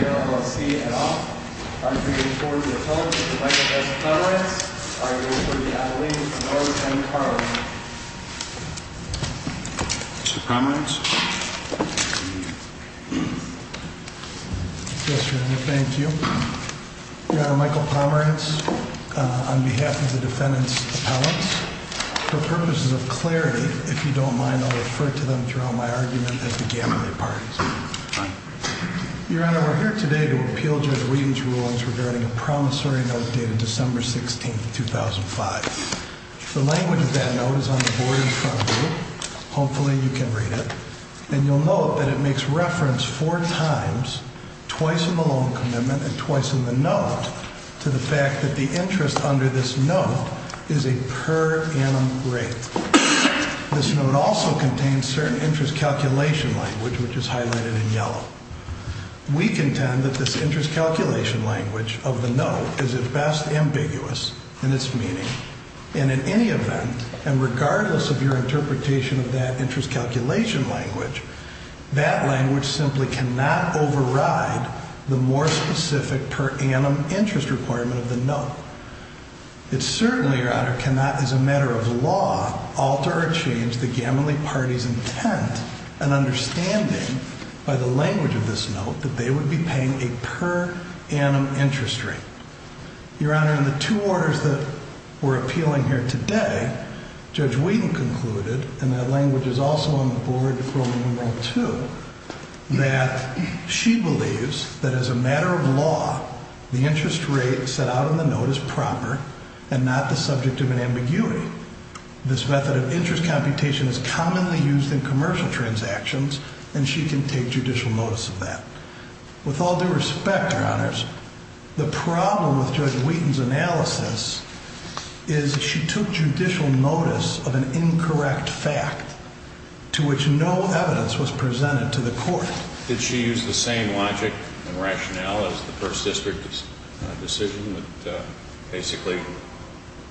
LLC and Off. I'm bringing forward to the podium Mr. Michael S. Pomerantz. I will also be addressing the attorneys from ours and Carlin. Mr. Pomerantz. Yes, Your Honor, thank you. Your Honor, Michael Pomerantz on behalf of the defendants' appellants. For purposes of clarity, if you don't mind, I'll refer to them throughout my argument as the gambling parties. Your Honor, we're here today to appeal Judge Whedon's rulings regarding a promissory note dated December 16, 2005. The language of that note is on the board in front of you. Hopefully you can read it. And you'll note that it makes reference four times, twice in the loan commitment and twice in the note to the fact that the interest under this note is a per annum rate. This note also contains certain interest calculation language, which is highlighted in yellow. We contend that this interest calculation language of the note is at best ambiguous in its meaning. And in any event, and regardless of your interpretation of that interest calculation language, that language simply cannot override the more specific per annum interest requirement of the note. It certainly, Your Honor, cannot, as a matter of law, alter or change the gambling party's intent and understanding by the language of this note that they would be paying a per annum interest rate. Your Honor, in the two orders that we're appealing here today, Judge Whedon concluded, and that language is also on the board for Rule No. 2, that she believes that as a matter of law, the interest rate set out in the note is a per annum rate. And that the note is proper and not the subject of an ambiguity. This method of interest computation is commonly used in commercial transactions, and she can take judicial notice of that. With all due respect, Your Honors, the problem with Judge Whedon's analysis is she took judicial notice of an incorrect fact to which no evidence was presented to the court. Did she use the same logic and rationale as the First District's decision that basically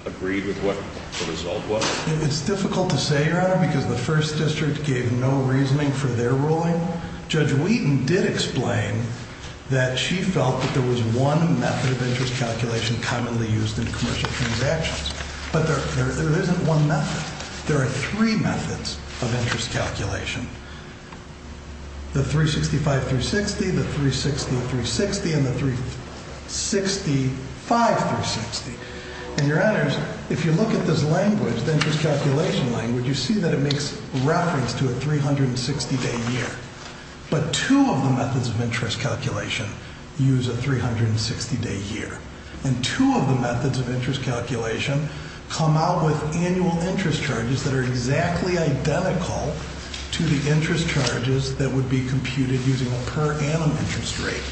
agreed with what the result was? It's difficult to say, Your Honor, because the First District gave no reasoning for their ruling. Judge Whedon did explain that she felt that there was one method of interest calculation commonly used in commercial transactions, but there isn't one method. There are three methods of interest calculation. The 365-360, the 360-360, and the 365-360. And, Your Honors, if you look at this language, the interest calculation language, you see that it makes reference to a 360-day year. But two of the methods of interest calculation use a 360-day year. And two of the methods of interest calculation come out with annual interest charges that are exactly identical to the interest charges that would be computed using a per annum interest rate.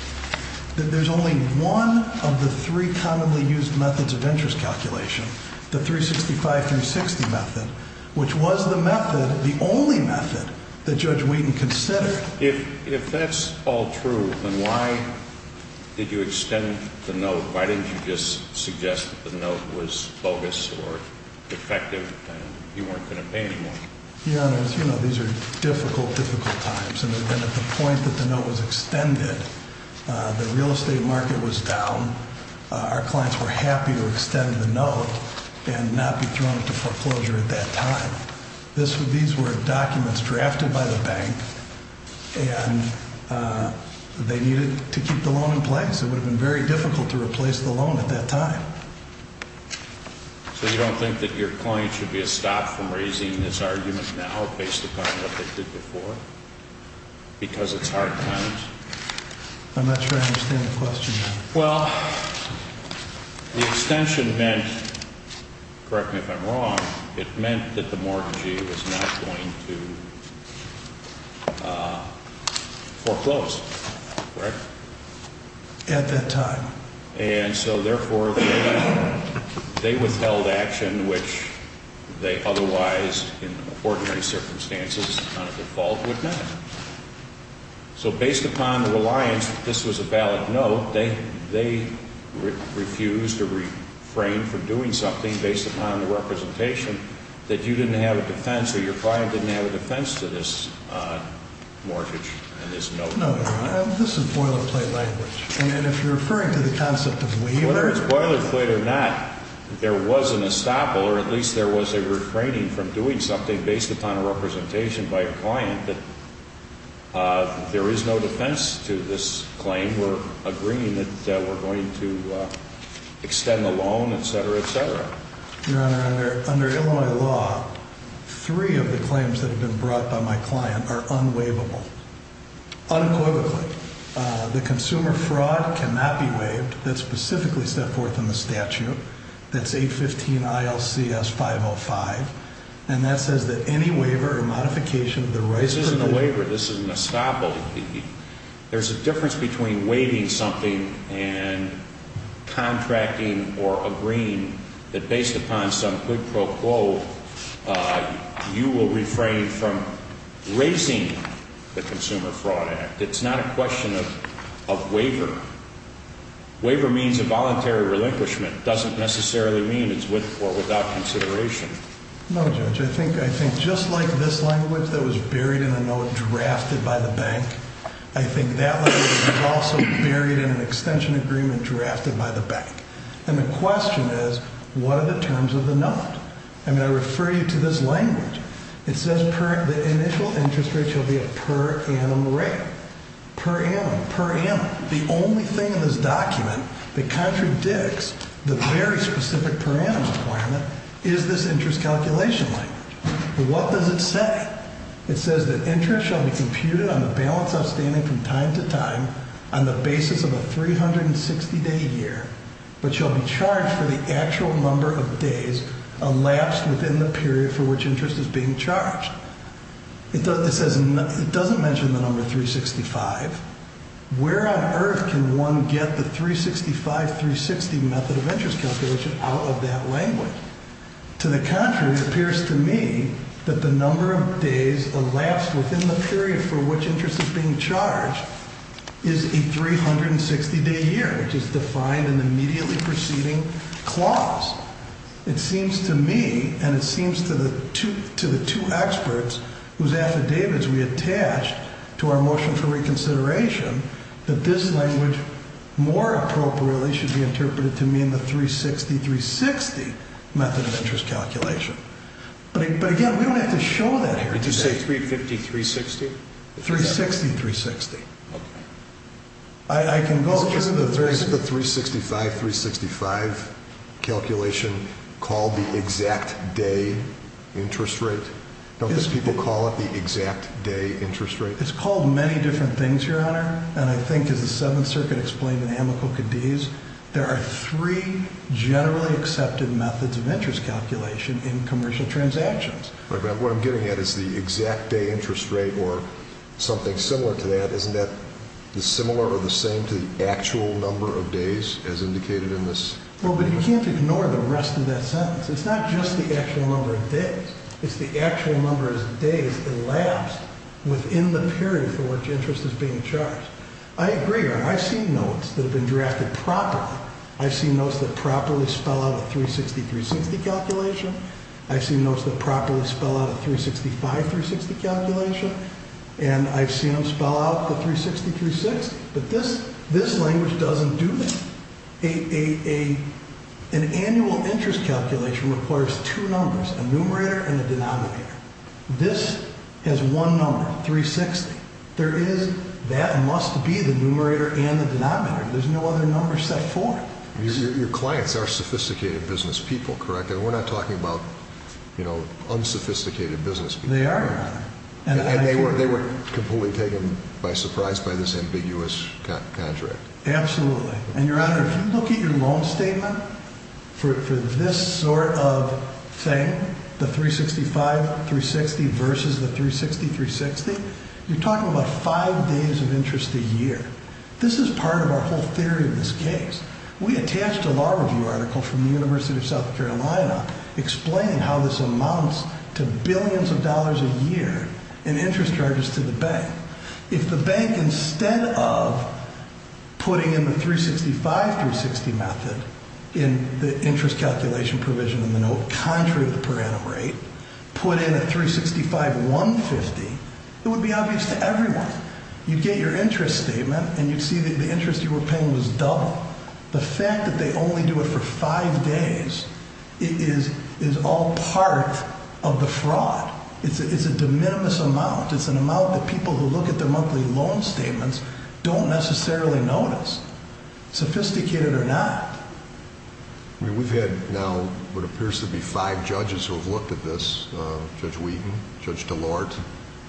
There's only one of the three commonly used methods of interest calculation, the 365-360 method, which was the method, the only method, that Judge Whedon considered. If that's all true, then why did you extend the note? Why didn't you just suggest that the note was bogus or defective and you weren't going to pay anymore? Your Honors, you know, these are difficult, difficult times. And at the point that the note was extended, the real estate market was down. Our clients were happy to extend the note and not be thrown into foreclosure at that time. These were documents drafted by the bank, and they needed to keep the loan in place. It would have been very difficult to replace the loan at that time. So you don't think that your client should be stopped from raising this argument now based upon what they did before because it's hard times? I'm not sure I understand the question. Well, the extension meant, correct me if I'm wrong, it meant that the mortgagee was not going to foreclose, correct? At that time. And so, therefore, they withheld action, which they otherwise, in ordinary circumstances, on a default would not. So based upon the reliance that this was a valid note, they refused or refrained from doing something based upon the representation that you didn't have a defense or your client didn't have a defense to this mortgage and this note. This is boilerplate language, and if you're referring to the concept of waiver. Whether it's boilerplate or not, there was an estoppel, or at least there was a refraining from doing something based upon a representation by a client that there is no defense to this claim. We're agreeing that we're going to extend the loan, et cetera, et cetera. Your Honor, under Illinois law, three of the claims that have been brought by my client are unwaivable. Unquotably. The consumer fraud cannot be waived. That's specifically set forth in the statute. That's 815 ILCS 505. And that says that any waiver or modification of the rights of the— This isn't a waiver. This is an estoppel. There's a difference between waiving something and contracting or agreeing that based upon some quid pro quo, you will refrain from raising the Consumer Fraud Act. It's not a question of waiver. Waiver means a voluntary relinquishment. It doesn't necessarily mean it's with or without consideration. No, Judge. I think just like this language that was buried in a note drafted by the bank, I think that language was also buried in an extension agreement drafted by the bank. And the question is, what are the terms of the note? I mean, I refer you to this language. It says the initial interest rate shall be a per annum rate. Per annum. Per annum. The only thing in this document that contradicts the very specific per annum requirement is this interest calculation language. What does it say? It says that interest shall be computed on the balance outstanding from time to time on the basis of a 360-day year, but shall be charged for the actual number of days elapsed within the period for which interest is being charged. It doesn't mention the number 365. Where on earth can one get the 365, 360 method of interest calculation out of that language? To the contrary, it appears to me that the number of days elapsed within the period for which interest is being charged is a 360-day year, which is defined in the immediately preceding clause. It seems to me, and it seems to the two experts whose affidavits we attached to our motion for reconsideration, that this language more appropriately should be interpreted to mean the 360-360 method of interest calculation. But again, we don't have to show that here today. Did you say 350-360? 360-360. Okay. Isn't the 365-365 calculation called the exact day interest rate? Don't these people call it the exact day interest rate? It's called many different things, Your Honor. And I think, as the Seventh Circuit explained in Amico-Cadiz, there are three generally accepted methods of interest calculation in commercial transactions. What I'm getting at is the exact day interest rate or something similar to that. Isn't that similar or the same to the actual number of days as indicated in this? Well, but you can't ignore the rest of that sentence. It's not just the actual number of days. It's the actual number of days elapsed within the period for which interest is being charged. I agree, Your Honor. I've seen notes that have been drafted properly. I've seen notes that properly spell out a 360-360 calculation. I've seen notes that properly spell out a 365-360 calculation. And I've seen them spell out the 360-360. But this language doesn't do that. An annual interest calculation requires two numbers, a numerator and a denominator. This has one number, 360. That must be the numerator and the denominator. There's no other number set for it. Your clients are sophisticated business people, correct? We're not talking about, you know, unsophisticated business people. They are, Your Honor. And they weren't completely taken by surprise by this ambiguous contract. Absolutely. And, Your Honor, if you look at your loan statement for this sort of thing, the 365-360 versus the 360-360, you're talking about five days of interest a year. This is part of our whole theory in this case. We attached a law review article from the University of South Carolina explaining how this amounts to billions of dollars a year in interest charges to the bank. If the bank, instead of putting in the 365-360 method in the interest calculation provision in the note, contrary to the per annum rate, put in a 365-150, it would be obvious to everyone. You'd get your interest statement, and you'd see that the interest you were paying was double. The fact that they only do it for five days is all part of the fraud. It's a de minimis amount. It's an amount that people who look at their monthly loan statements don't necessarily notice, sophisticated or not. I mean, we've had now what appears to be five judges who have looked at this, Judge Wheaton, Judge DeLorte,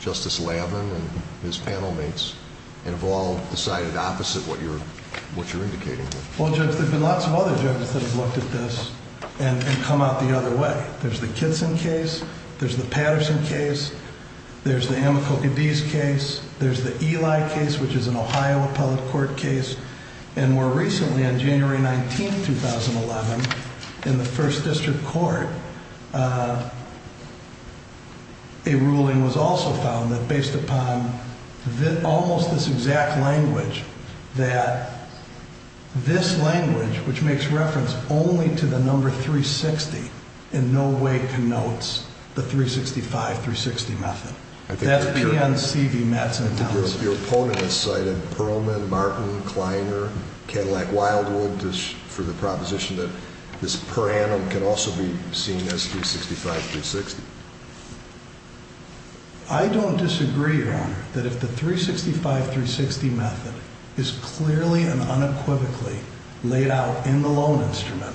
Justice Lavin, and his panel mates, and have all decided opposite what you're indicating here. Well, Judge, there have been lots of other judges that have looked at this and come out the other way. There's the Kitson case. There's the Patterson case. There's the Amakokides case. There's the Eli case, which is an Ohio appellate court case. And more recently, on January 19, 2011, in the First District Court, a ruling was also found that based upon almost this exact language, that this language, which makes reference only to the number 360, in no way connotes the 365-360 method. That's PNC v. Matson, Tennessee. Your opponent has cited Perlman, Martin, Kleiner, Cadillac, Wildwood, for the proposition that this per annum can also be seen as 365-360. I don't disagree, Your Honor, that if the 365-360 method is clearly and unequivocally laid out in the loan instrument,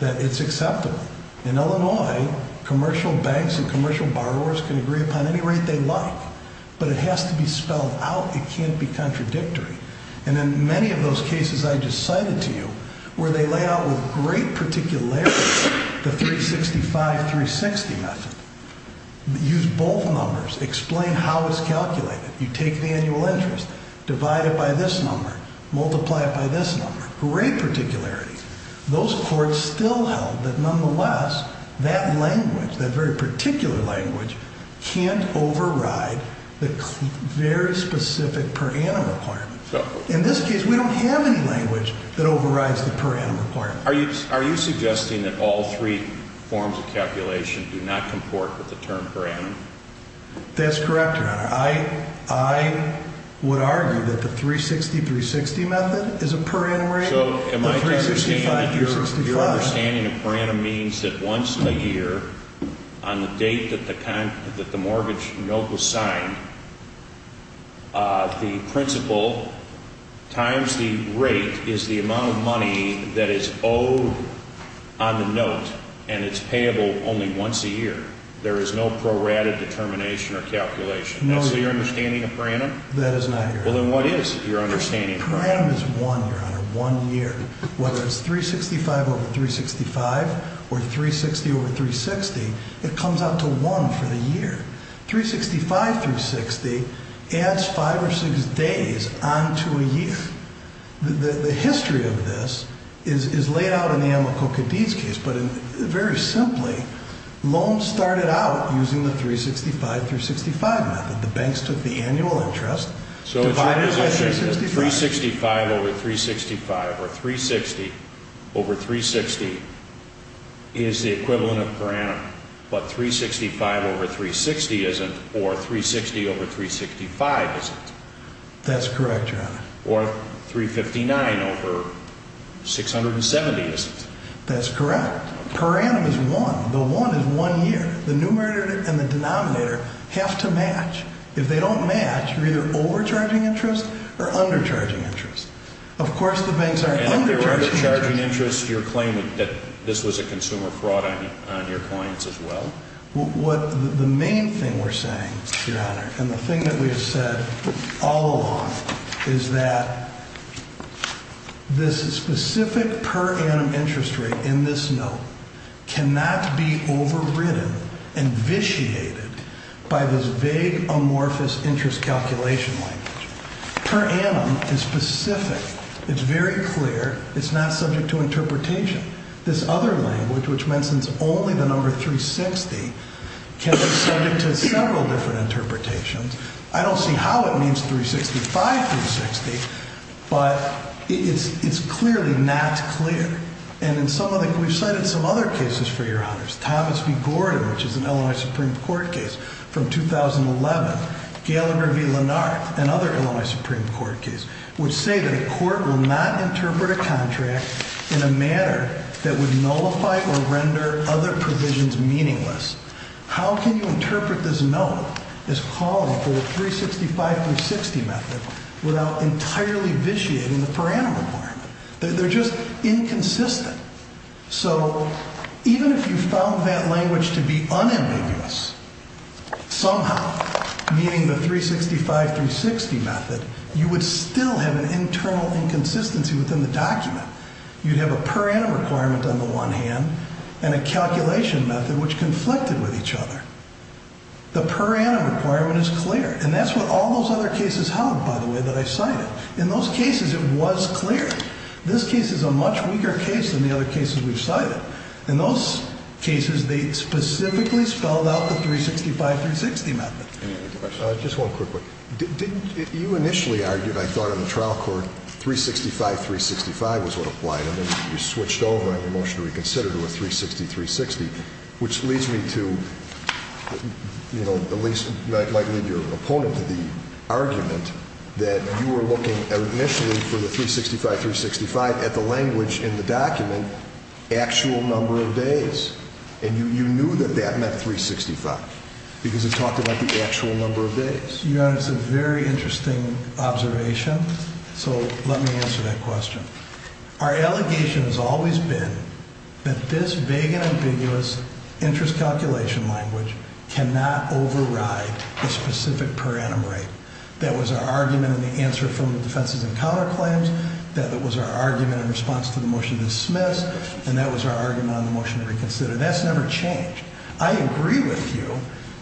that it's acceptable. In Illinois, commercial banks and commercial borrowers can agree upon any rate they like, but it has to be spelled out. It can't be contradictory. And in many of those cases I just cited to you, where they lay out with great particularity the 365-360 method, use both numbers, explain how it's calculated. You take the annual interest, divide it by this number, multiply it by this number. Great particularity. Those courts still held that, nonetheless, that language, that very particular language, can't override the very specific per annum requirement. In this case, we don't have any language that overrides the per annum requirement. Are you suggesting that all three forms of calculation do not comport with the term per annum? That's correct, Your Honor. I would argue that the 360-360 method is a per annum rate. So in my understanding, your understanding of per annum means that once a year, on the date that the mortgage note was signed, the principal times the rate is the amount of money that is owed on the note, and it's payable only once a year. There is no prorated determination or calculation. That's your understanding of per annum? That is not correct. Well, then what is your understanding of per annum? Per annum is one, Your Honor, one year. Whether it's 365 over 365 or 360 over 360, it comes out to one for the year. 365-360 adds five or six days on to a year. The history of this is laid out in the Amoco-Cadiz case, but very simply, loans started out using the 365-365 method. The banks took the annual interest, divided it by 365. So is your position that 365 over 365 or 360 over 360 is the equivalent of per annum, but 365 over 360 isn't or 360 over 365 isn't? That's correct, Your Honor. Or 359 over 670 isn't? That's correct. Per annum is one. The one is one year. The numerator and the denominator have to match. If they don't match, you're either overcharging interest or undercharging interest. Of course the banks are undercharging interest. And if they're overcharging interest, you're claiming that this was a consumer fraud on your clients as well? The main thing we're saying, Your Honor, and the thing that we have said all along, is that this specific per annum interest rate in this note cannot be overridden, and vitiated by this vague, amorphous interest calculation language. Per annum is specific. It's very clear. It's not subject to interpretation. This other language, which mentions only the number 360, can be subject to several different interpretations. I don't see how it means 365, 360, but it's clearly not clear. And we've cited some other cases for Your Honors. Thomas v. Gordon, which is an Illinois Supreme Court case from 2011. Gallagher v. Lennart, another Illinois Supreme Court case, which say that a court will not interpret a contract in a manner that would nullify or render other provisions meaningless. How can you interpret this note, this column for the 365, 360 method, without entirely vitiating the per annum requirement? They're just inconsistent. So even if you found that language to be unambiguous, somehow, meaning the 365, 360 method, you would still have an internal inconsistency within the document. You'd have a per annum requirement on the one hand and a calculation method which conflicted with each other. The per annum requirement is clear. And that's what all those other cases held, by the way, that I cited. In those cases, it was clear. This case is a much weaker case than the other cases we've cited. In those cases, they specifically spelled out the 365, 360 method. Any other questions? Just one quick one. You initially argued, I thought, on the trial court, 365, 365 was what applied. And then you switched over on your motion to reconsider to a 360, 360, which leads me to, you know, at least might lead your opponent to the argument that you were looking initially for the 365, 365 at the language in the document, actual number of days. And you knew that that meant 365 because it talked about the actual number of days. Your Honor, it's a very interesting observation. So let me answer that question. Our allegation has always been that this big and ambiguous interest calculation language cannot override the specific per annum rate. That was our argument in the answer from the defenses and counterclaims. That was our argument in response to the motion to dismiss. And that was our argument on the motion to reconsider. That's never changed. I agree with you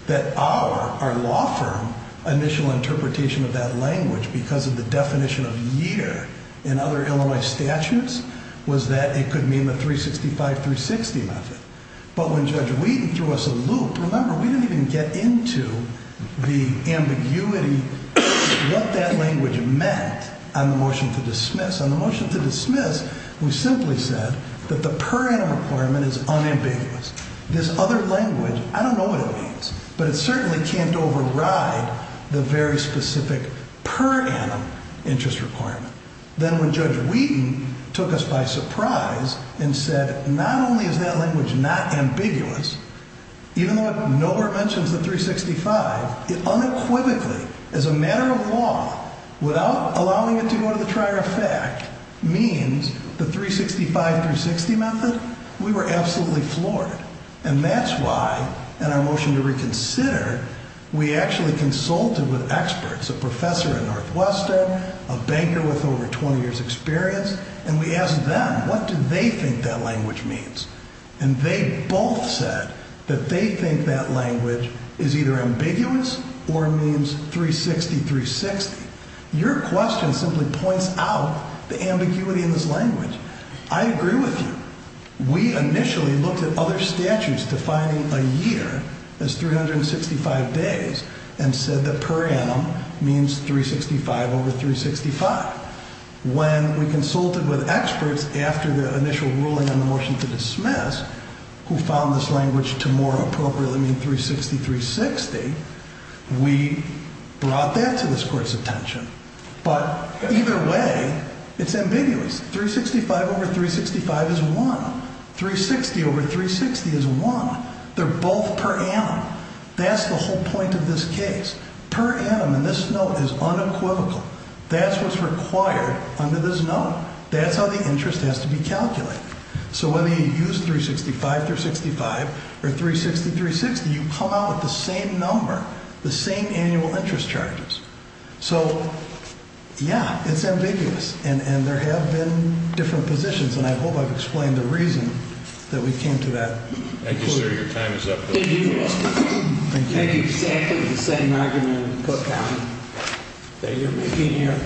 that our law firm initial interpretation of that language because of the definition of year in other Illinois statutes was that it could mean the 365, 360 method. But when Judge Wheaton threw us a loop, remember, we didn't even get into the ambiguity of what that language meant on the motion to dismiss. On the motion to dismiss, we simply said that the per annum requirement is unambiguous. This other language, I don't know what it means, but it certainly can't override the very specific per annum interest requirement. Then when Judge Wheaton took us by surprise and said, not only is that language not ambiguous, even though it nowhere mentions the 365, it unequivocally, as a matter of law, without allowing it to go to the trier of fact, means the 365, 360 method, we were absolutely floored. And that's why in our motion to reconsider, we actually consulted with experts, a professor at Northwestern, a banker with over 20 years experience, and we asked them, what do they think that language means? And they both said that they think that language is either ambiguous or means 360, 360. Your question simply points out the ambiguity in this language. I agree with you. We initially looked at other statutes defining a year as 365 days and said that per annum means 365 over 365. When we consulted with experts after the initial ruling on the motion to dismiss, who found this language to more appropriately mean 360, 360, we brought that to this court's attention. But either way, it's ambiguous. 365 over 365 is one. 360 over 360 is one. They're both per annum. That's the whole point of this case. Per annum in this note is unequivocal. That's what's required under this note. That's how the interest has to be calculated. So whether you use 365, 365, or 360, 360, you come out with the same number, the same annual interest charges. So, yeah, it's ambiguous. And there have been different positions, and I hope I've explained the reason that we came to that conclusion. Thank you, sir. Your time is up. Thank you, Mr. Chief. Thank you. Exactly the same argument put down that you're making here.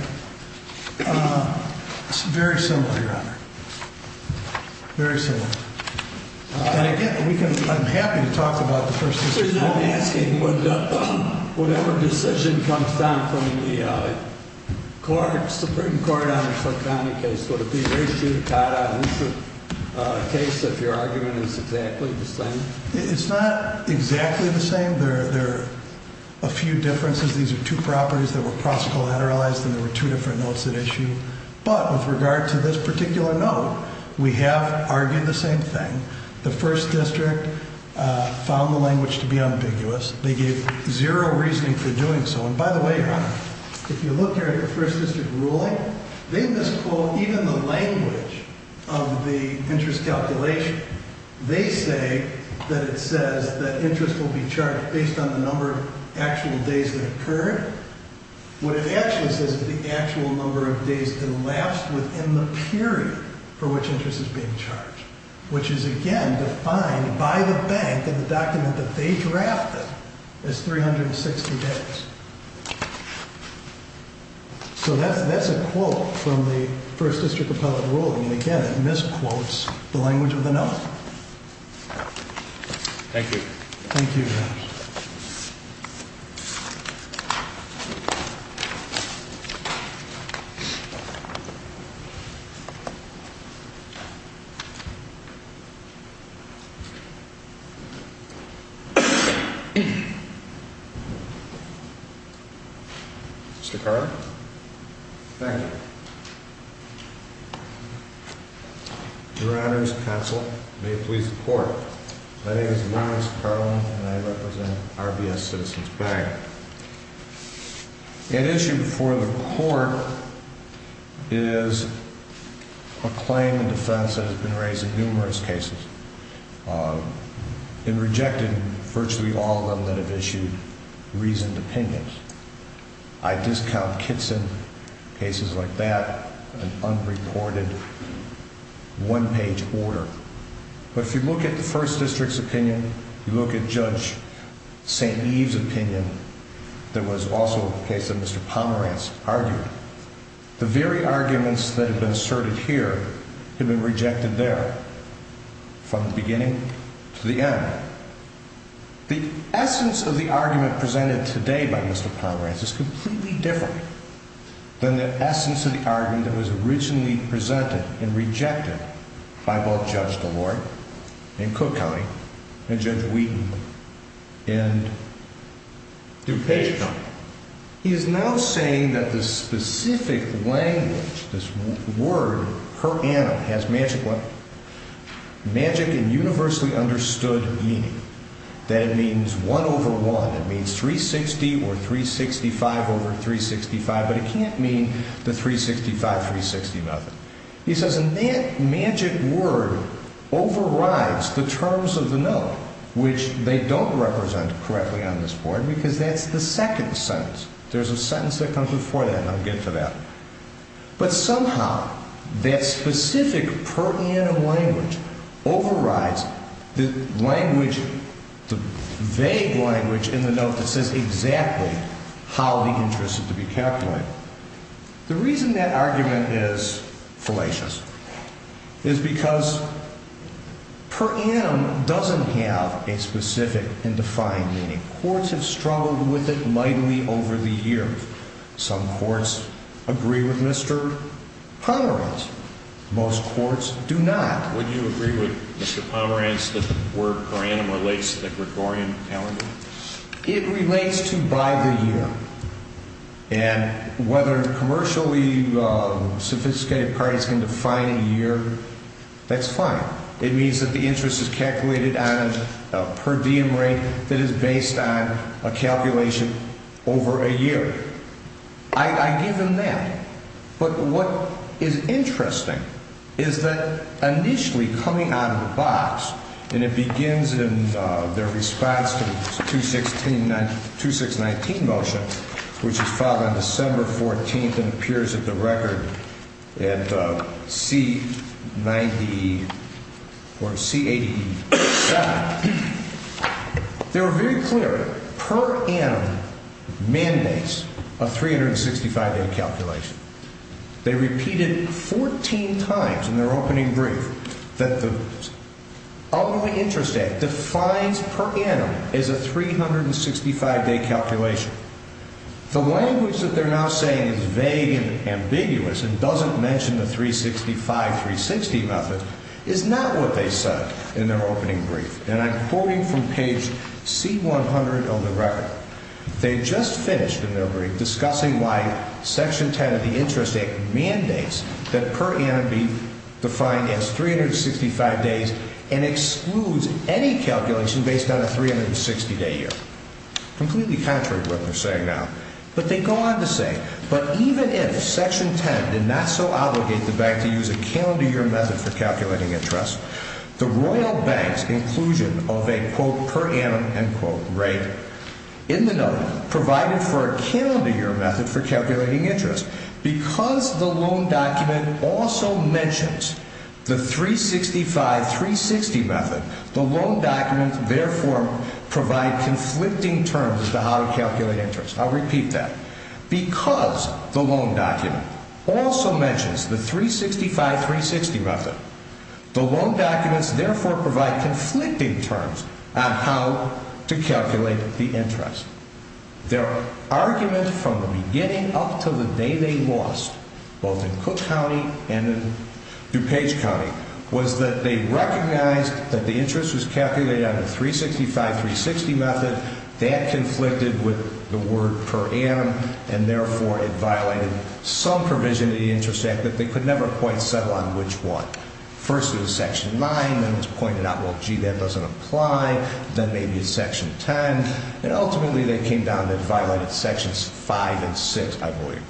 It's very similar, Your Honor. Very similar. And, again, I'm happy to talk about the first decision. I'm asking, whatever decision comes down from the Supreme Court on the Clark County case, would it be very judicata in this case if your argument is exactly the same? It's not exactly the same. There are a few differences. These are two properties that were cross-collateralized, and there were two different notes at issue. But with regard to this particular note, we have argued the same thing. The First District found the language to be ambiguous. They gave zero reasoning for doing so. And, by the way, Your Honor, if you look here at the First District ruling, they misquote even the language of the interest calculation. They say that it says that interest will be charged based on the number of actual days that occur. What it actually says is the actual number of days that last within the period for which interest is being charged, which is, again, defined by the bank in the document that they drafted as 360 days. So that's a quote from the First District appellate ruling. And, again, it misquotes the language of the note. Thank you, Your Honor. Mr. Carlin. Thank you. Your Honor's counsel, may it please the Court. My name is Lawrence Carlin, and I represent RBS Citizens Bank. An issue before the Court is a claim in defense that has been raised in numerous cases and rejected virtually all of them that have issued reasoned opinions. I discount Kitson cases like that, an unreported one-page order. But if you look at the First District's opinion, you look at Judge St. Eve's opinion, there was also a case that Mr. Pomerantz argued. The very arguments that have been asserted here have been rejected there from the beginning to the end. The essence of the argument presented today by Mr. Pomerantz is completely different than the essence of the argument that was originally presented and rejected by both Judge DeLoy in Cook County and Judge Wheaton in DuPage County. He is now saying that the specific language, this word, per annum, has magic and universally understood meaning. That it means 1 over 1, it means 360 or 365 over 365, but it can't mean the 365, 360 method. He says, and that magic word overrides the terms of the note, which they don't represent correctly on this board because that's the second sentence. There's a sentence that comes before that, and I'll get to that. But somehow, that specific per annum language overrides the language, the vague language in the note that says exactly how the interest is to be calculated. The reason that argument is fallacious is because per annum doesn't have a specific and defined meaning. Courts have struggled with it mightily over the years. I believe some courts agree with Mr. Pomerantz. Most courts do not. Would you agree with Mr. Pomerantz that the word per annum relates to the Gregorian calendar? It relates to by the year. And whether commercially sophisticated parties can define a year, that's fine. It means that the interest is calculated on a per diem rate that is based on a calculation over a year. I give them that. But what is interesting is that initially coming out of the box, and it begins in their response to the 2619 motion, which is filed on December 14th and appears at the record at C90 or C87. They were very clear. Per annum mandates a 365-day calculation. They repeated 14 times in their opening brief that the Overly Interest Act defines per annum as a 365-day calculation. The language that they're now saying is vague and ambiguous and doesn't mention the 365, 360 method is not what they said in their opening brief. And I'm quoting from page C100 of the record. They just finished in their brief discussing why Section 10 of the Interest Act mandates that per annum be defined as 365 days and excludes any calculation based on a 360-day year. Completely contrary to what they're saying now. But they go on to say, but even if Section 10 did not so obligate the bank to use a calendar year method for calculating interest, the Royal Bank's inclusion of a, quote, per annum, end quote, rate in the note provided for a calendar year method for calculating interest, because the loan document also mentions the 365, 360 method, the loan documents therefore provide conflicting terms as to how to calculate interest. I'll repeat that. Because the loan document also mentions the 365, 360 method, the loan documents therefore provide conflicting terms on how to calculate the interest. Their argument from the beginning up to the day they lost, both in Cook County and in DuPage County, was that they recognized that the interest was calculated on the 365, 360 method. That conflicted with the word per annum, and therefore it violated some provision in the Interest Act that they could never quite settle on which one. First it was Section 9, then it was pointed out, well, gee, that doesn't apply. Then maybe it's Section 10. And ultimately they came down and violated Sections 5 and 6, I believe.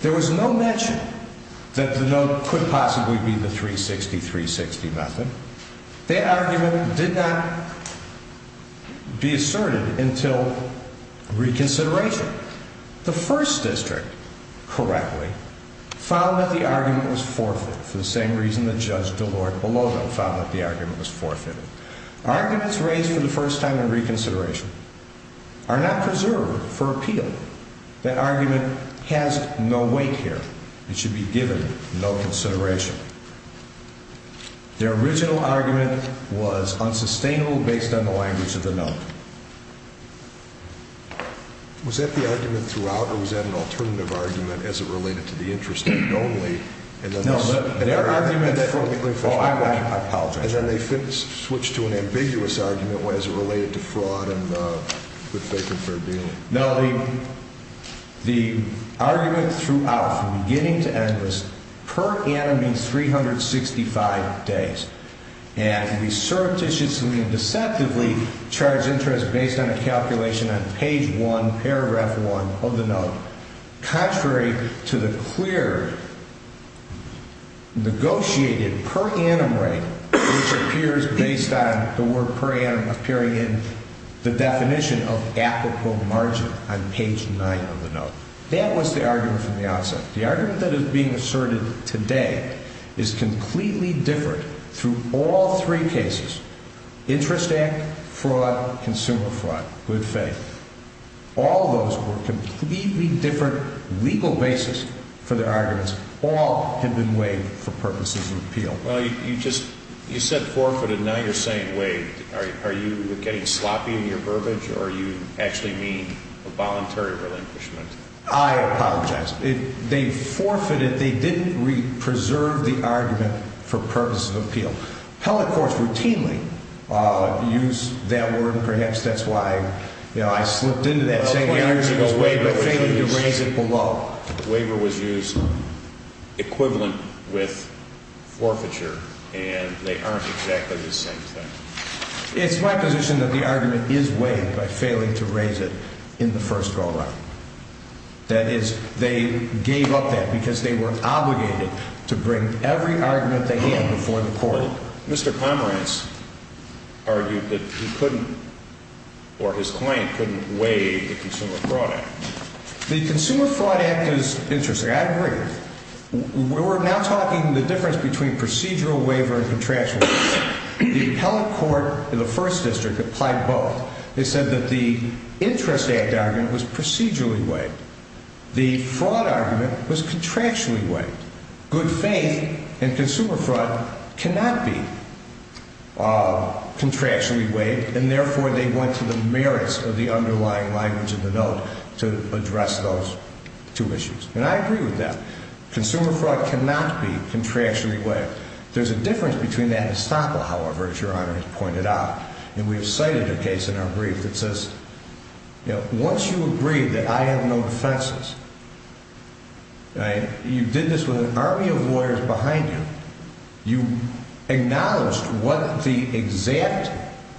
There was no mention that the note could possibly be the 360, 360 method. That argument did not be asserted until reconsideration. The First District, correctly, found that the argument was forfeited, for the same reason that Judge Delord-Beloved found that the argument was forfeited. Arguments raised for the first time in reconsideration are not preserved for appeal. That argument has no weight here. It should be given no consideration. Their original argument was unsustainable based on the language of the note. Was that the argument throughout, or was that an alternative argument as it related to the Interest Act only? No, their argument, oh, I apologize. And then they switched to an ambiguous argument as it related to fraud and good faith and fair dealing. Now, the argument throughout, from beginning to end, was per annum means 365 days. And we surreptitiously and deceptively charge interest based on a calculation on page 1, paragraph 1 of the note. Contrary to the clear negotiated per annum rate, which appears based on the word per annum appearing in the definition of applicable margin on page 9 of the note. That was the argument from the outset. The argument that is being asserted today is completely different through all three cases. Interest Act, fraud, consumer fraud, good faith. All those were completely different legal basis for their arguments. All had been waived for purposes of appeal. Well, you just, you said forfeited, now you're saying waived. Are you getting sloppy in your verbiage, or do you actually mean a voluntary relinquishment? I apologize. They forfeited, they didn't preserve the argument for purposes of appeal. Pellet courts routinely use that word, and perhaps that's why, you know, I slipped into that same argument, but failing to raise it below. The waiver was used equivalent with forfeiture, and they aren't exactly the same thing. It's my position that the argument is waived by failing to raise it in the first go around. That is, they gave up that because they were obligated to bring every argument they had before the court. Mr. Comrance argued that he couldn't, or his client couldn't waive the Consumer Fraud Act. The Consumer Fraud Act is interesting. I agree. We're now talking the difference between procedural waiver and contractual waiver. The Pellet Court in the First District applied both. They said that the Interest Act argument was procedurally waived. The fraud argument was contractually waived. Good faith and consumer fraud cannot be contractually waived, and therefore they went to the merits of the underlying language of the note to address those two issues. And I agree with that. Consumer fraud cannot be contractually waived. There's a difference between that and estoppel, however, as Your Honor has pointed out, and we've cited a case in our brief that says, you know, once you agree that I have no defenses, you did this with an army of lawyers behind you. You acknowledged what the exact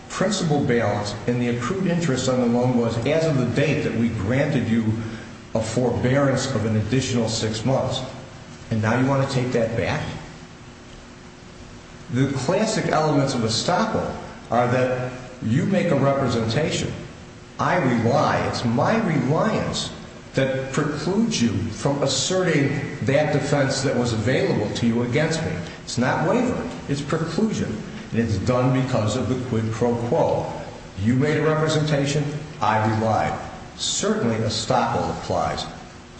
principal balance in the accrued interest on the loan was as of the date that we granted you a forbearance of an additional six months, and now you want to take that back? The classic elements of estoppel are that you make a representation. I rely. It's my reliance that precludes you from asserting that defense that was available to you against me. It's not waiver. It's preclusion, and it's done because of the quid pro quo. You made a representation. I relied. Certainly, estoppel applies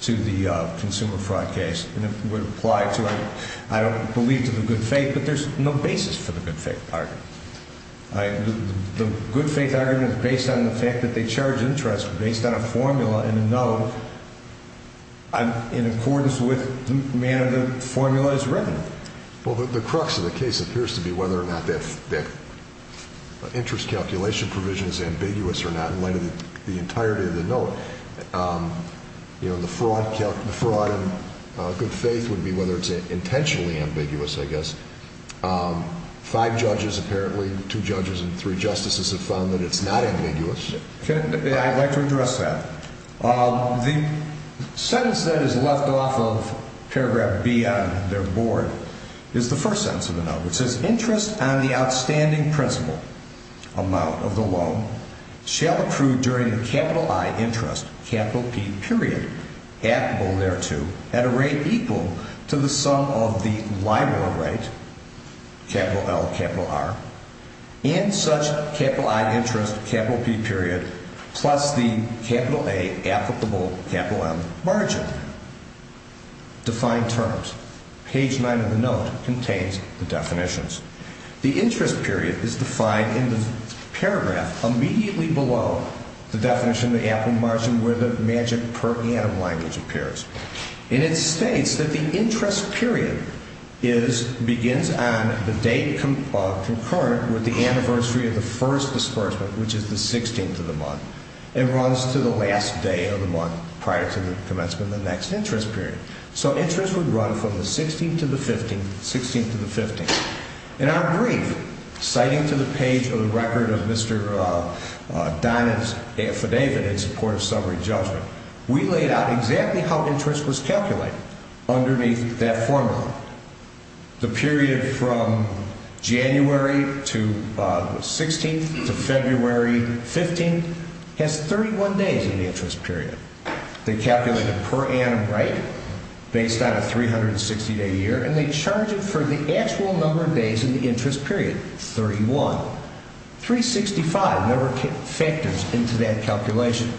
to the consumer fraud case, and it would apply to, I don't believe, to the good faith, but there's no basis for the good faith argument. The good faith argument is based on the fact that they charge interest based on a formula and a note in accordance with the manner the formula is written. Well, the crux of the case appears to be whether or not that interest calculation provision is ambiguous or not in light of the entirety of the note. You know, the fraud in good faith would be whether it's intentionally ambiguous, I guess. Five judges, apparently, two judges and three justices have found that it's not ambiguous. I'd like to address that. The sentence that is left off of paragraph B on their board is the first sentence of the note, which says, Interest on the outstanding principal amount of the loan shall accrue during the capital I interest, capital P period, applicable thereto, at a rate equal to the sum of the LIBOR rate, capital L, capital R, and such capital I interest, capital P period, plus the capital A applicable capital M margin. Defined terms. Page 9 of the note contains the definitions. The interest period is defined in the paragraph immediately below the definition of the applicable capital M margin where the magic per annum language appears. And it states that the interest period begins on the date concurrent with the anniversary of the first disbursement, which is the 16th of the month, and runs to the last day of the month prior to the commencement of the next interest period. So interest would run from the 16th to the 15th, 16th to the 15th. In our brief, citing to the page of the record of Mr. Donovan's affidavit in support of summary judgment, we laid out exactly how interest was calculated underneath that formula. The period from January to the 16th to February 15th has 31 days in the interest period. They calculate a per annum rate based on a 360-day year, and they charge it for the actual number of days in the interest period, 31. 365 number of factors into that calculation.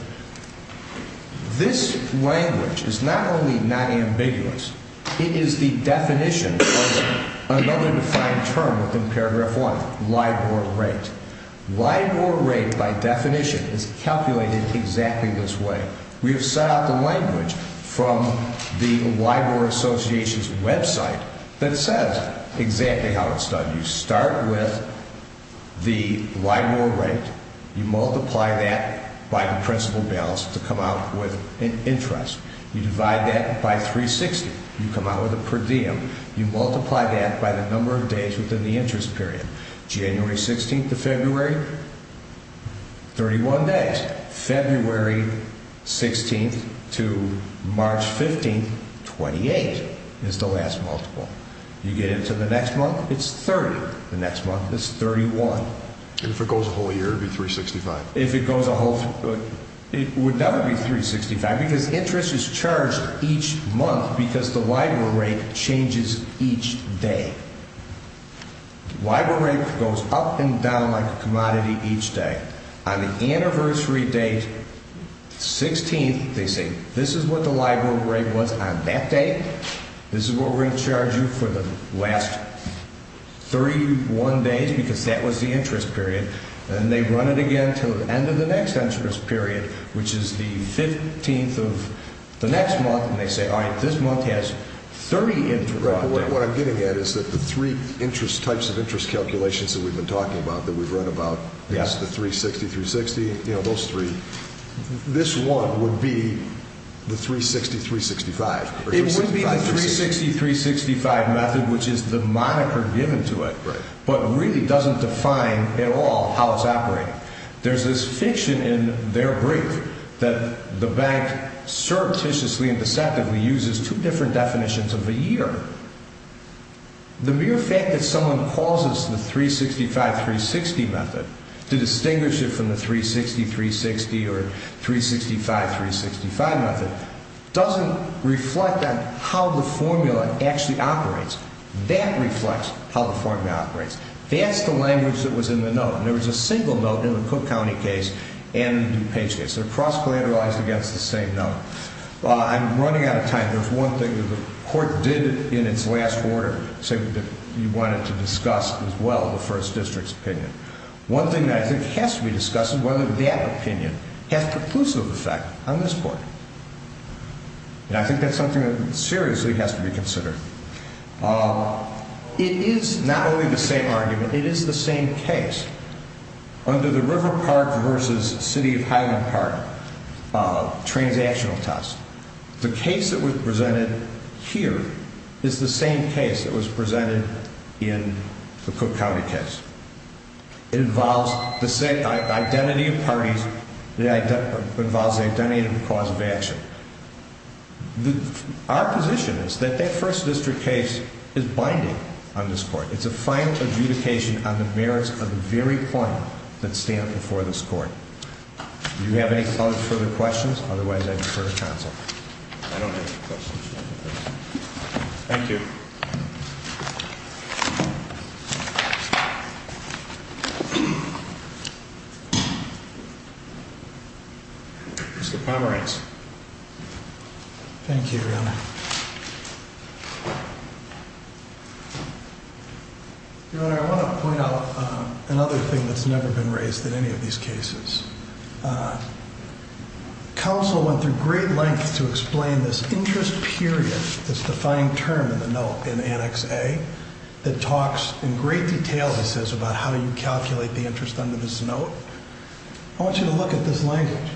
This language is not only not ambiguous, it is the definition of another defined term within paragraph 1, LIBOR rate. LIBOR rate, by definition, is calculated exactly this way. We have set out the language from the LIBOR Association's website that says exactly how it's done. You start with the LIBOR rate. You multiply that by the principal balance to come out with an interest. You divide that by 360. You come out with a per diem. You multiply that by the number of days within the interest period. January 16th to February, 31 days. February 16th to March 15th, 28 is the last multiple. You get into the next month, it's 30. The next month, it's 31. If it goes a whole year, it would be 365. If it goes a whole year, it would never be 365 because interest is charged each month because the LIBOR rate changes each day. LIBOR rate goes up and down like a commodity each day. On the anniversary date, 16th, they say, this is what the LIBOR rate was on that date. This is what we're going to charge you for the last 31 days because that was the interest period. And they run it again until the end of the next interest period, which is the 15th of the next month. And they say, all right, this month has 30 interest. What I'm getting at is that the three types of interest calculations that we've been talking about, that we've read about, is the 360, 360, you know, those three. This one would be the 360, 365. It would be the 360, 365 method, which is the moniker given to it, but really doesn't define at all how it's operating. There's this fiction in their brief that the bank surreptitiously and deceptively uses two different definitions of a year. The mere fact that someone calls this the 365, 360 method to distinguish it from the 360, 360 or 365, 365 method doesn't reflect on how the formula actually operates. That reflects how the formula operates. That's the language that was in the note. There was a single note in the Cook County case and the DuPage case. They're cross-collateralized against the same note. I'm running out of time. There's one thing that the court did in its last order that you wanted to discuss as well, the first district's opinion. One thing that I think has to be discussed is whether that opinion has conclusive effect on this court. And I think that's something that seriously has to be considered. It is not only the same argument. It is the same case under the River Park versus City of Highland Park transactional test. The case that was presented here is the same case that was presented in the Cook County case. It involves the identity of parties. It involves the identity of the cause of action. Our position is that that first district case is binding on this court. It's a final adjudication on the merits of the very point that stand before this court. Do you have any further questions? Otherwise, I defer to counsel. I don't have any questions. Thank you. Mr. Pomerantz. Thank you, Your Honor. Your Honor, I want to point out another thing that's never been raised in any of these cases. Counsel went through great lengths to explain this interest period, this defining term in the note in Annex A, that talks in great detail, he says, about how you calculate the interest under this note. I want you to look at this language.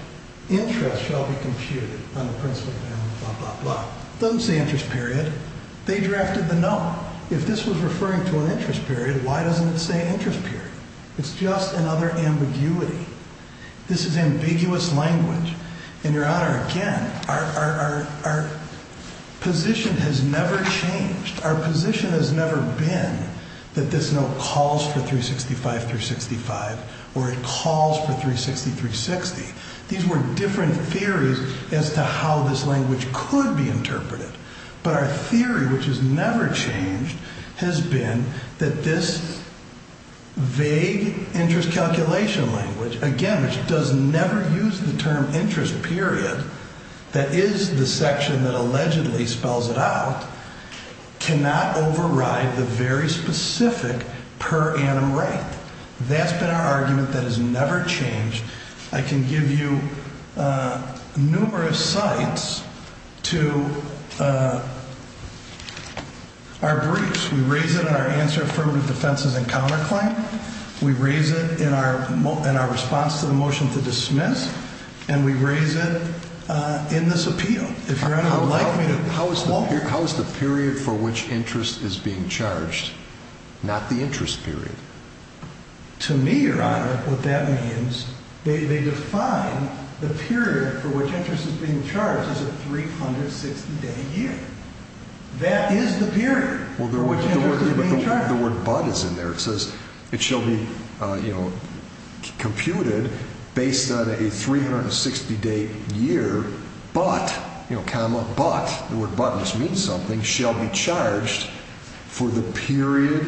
Interest shall be computed on the principal and blah, blah, blah. It doesn't say interest period. They drafted the note. If this was referring to an interest period, why doesn't it say interest period? It's just another ambiguity. This is ambiguous language. And, Your Honor, again, our position has never changed. Our position has never been that this note calls for 365-365 or it calls for 360-360. These were different theories as to how this language could be interpreted. But our theory, which has never changed, has been that this vague interest calculation language, again, which does never use the term interest period, that is the section that allegedly spells it out, cannot override the very specific per annum right. That's been our argument that has never changed. I can give you numerous sites to our briefs. We raise it in our answer affirmative defenses and counterclaim. We raise it in our response to the motion to dismiss. And we raise it in this appeal. If Your Honor would like me to pause. How is the period for which interest is being charged not the interest period? To me, Your Honor, what that means, they define the period for which interest is being charged as a 360-day year. That is the period for which interest is being charged. The word but is in there. It says it shall be computed based on a 360-day year, but, comma, but, the word but just means something, shall be charged for the period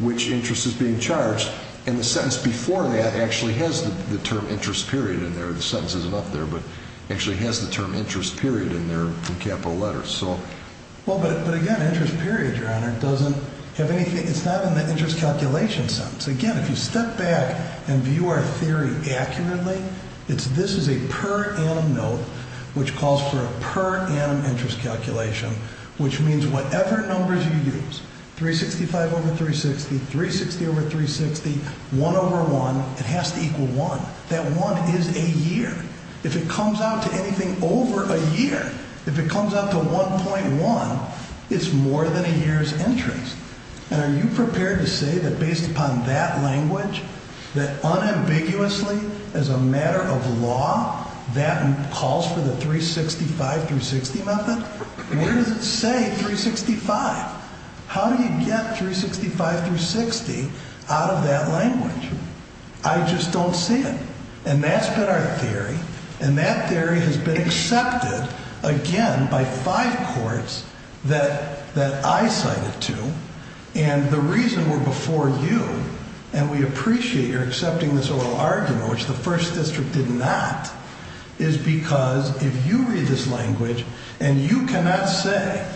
which interest is being charged. And the sentence before that actually has the term interest period in there. The sentence isn't up there, but actually has the term interest period in there in capital letters. Well, but again, interest period, Your Honor, doesn't have anything. It's not in the interest calculation sentence. Again, if you step back and view our theory accurately, this is a per annum note which calls for a per annum interest calculation, which means whatever numbers you use, 365 over 360, 360 over 360, 1 over 1, it has to equal 1. That 1 is a year. If it comes out to anything over a year, if it comes out to 1.1, it's more than a year's interest. And are you prepared to say that based upon that language, that unambiguously as a matter of law, that calls for the 365-360 method? Where does it say 365? How do you get 365-360 out of that language? I just don't see it. And that's been our theory, and that theory has been accepted, again, by five courts that I cited to, and the reason we're before you and we appreciate your accepting this oral argument, which the First District did not, is because if you read this language and you cannot say,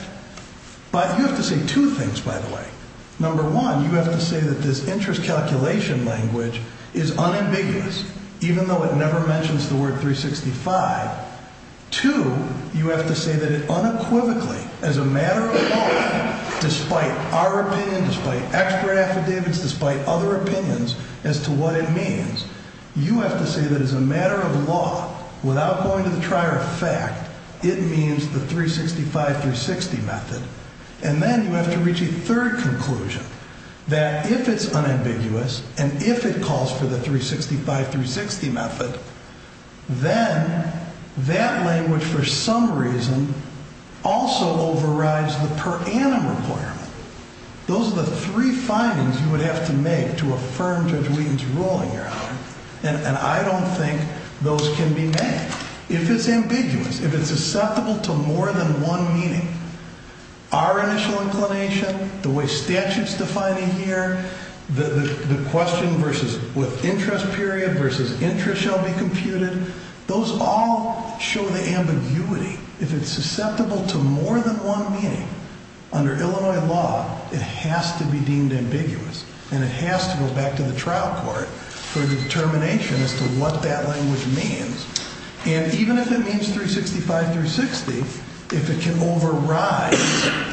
but you have to say two things, by the way. Number one, you have to say that this interest calculation language is unambiguous, even though it never mentions the word 365. Two, you have to say that it unequivocally, as a matter of law, despite our opinion, despite expert affidavits, despite other opinions as to what it means, you have to say that as a matter of law, without going to the trier of fact, it means the 365-360 method. And then you have to reach a third conclusion, that if it's unambiguous and if it calls for the 365-360 method, then that language, for some reason, also overrides the per annum requirement. Those are the three findings you would have to make to affirm Judge Wheaton's ruling here. And I don't think those can be made. If it's ambiguous, if it's susceptible to more than one meaning, our initial inclination, the way statute's defining here, the question with interest period versus interest shall be computed, those all show the ambiguity. If it's susceptible to more than one meaning, under Illinois law, it has to be deemed ambiguous, and it has to go back to the trial court for the determination as to what that language means. And even if it means 365-360, if it can override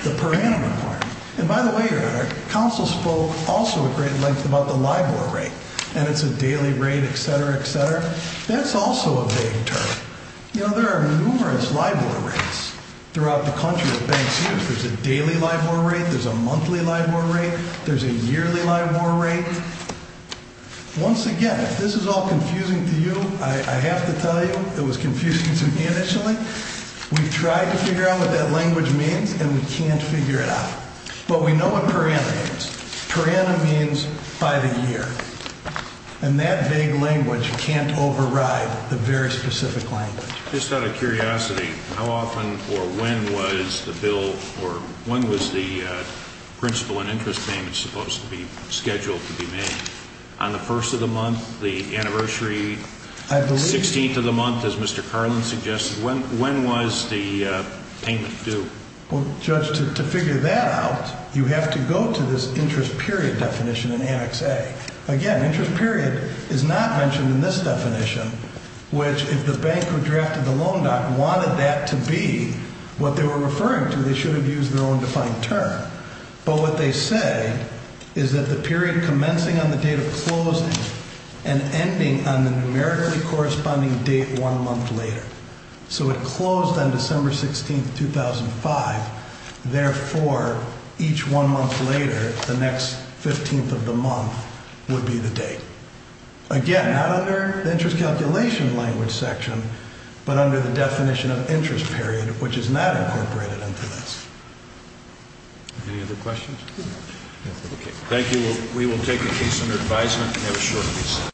the per annum requirement. And by the way, Your Honor, counsel spoke also at great length about the LIBOR rate, and it's a daily rate, et cetera, et cetera. That's also a vague term. You know, there are numerous LIBOR rates throughout the country of banks' use. There's a daily LIBOR rate, there's a monthly LIBOR rate, there's a yearly LIBOR rate. Once again, if this is all confusing to you, I have to tell you it was confusing to me initially. We've tried to figure out what that language means, and we can't figure it out. But we know what per annum means. Per annum means by the year. And that vague language can't override the very specific language. Just out of curiosity, how often or when was the bill or when was the principal and interest payment supposed to be scheduled to be made? On the first of the month, the anniversary, 16th of the month, as Mr. Carlin suggested, when was the payment due? Well, Judge, to figure that out, you have to go to this interest period definition in Annex A. Again, interest period is not mentioned in this definition, which if the bank who drafted the loan doc wanted that to be what they were referring to, they should have used their own defined term. But what they say is that the period commencing on the date of closing and ending on the numerically corresponding date one month later. So it closed on December 16th, 2005. Therefore, each one month later, the next 15th of the month would be the date. Again, not under the interest calculation language section, but under the definition of interest period, which is not incorporated into this. Any other questions? Thank you. We will take a case under advisement and have a short recess.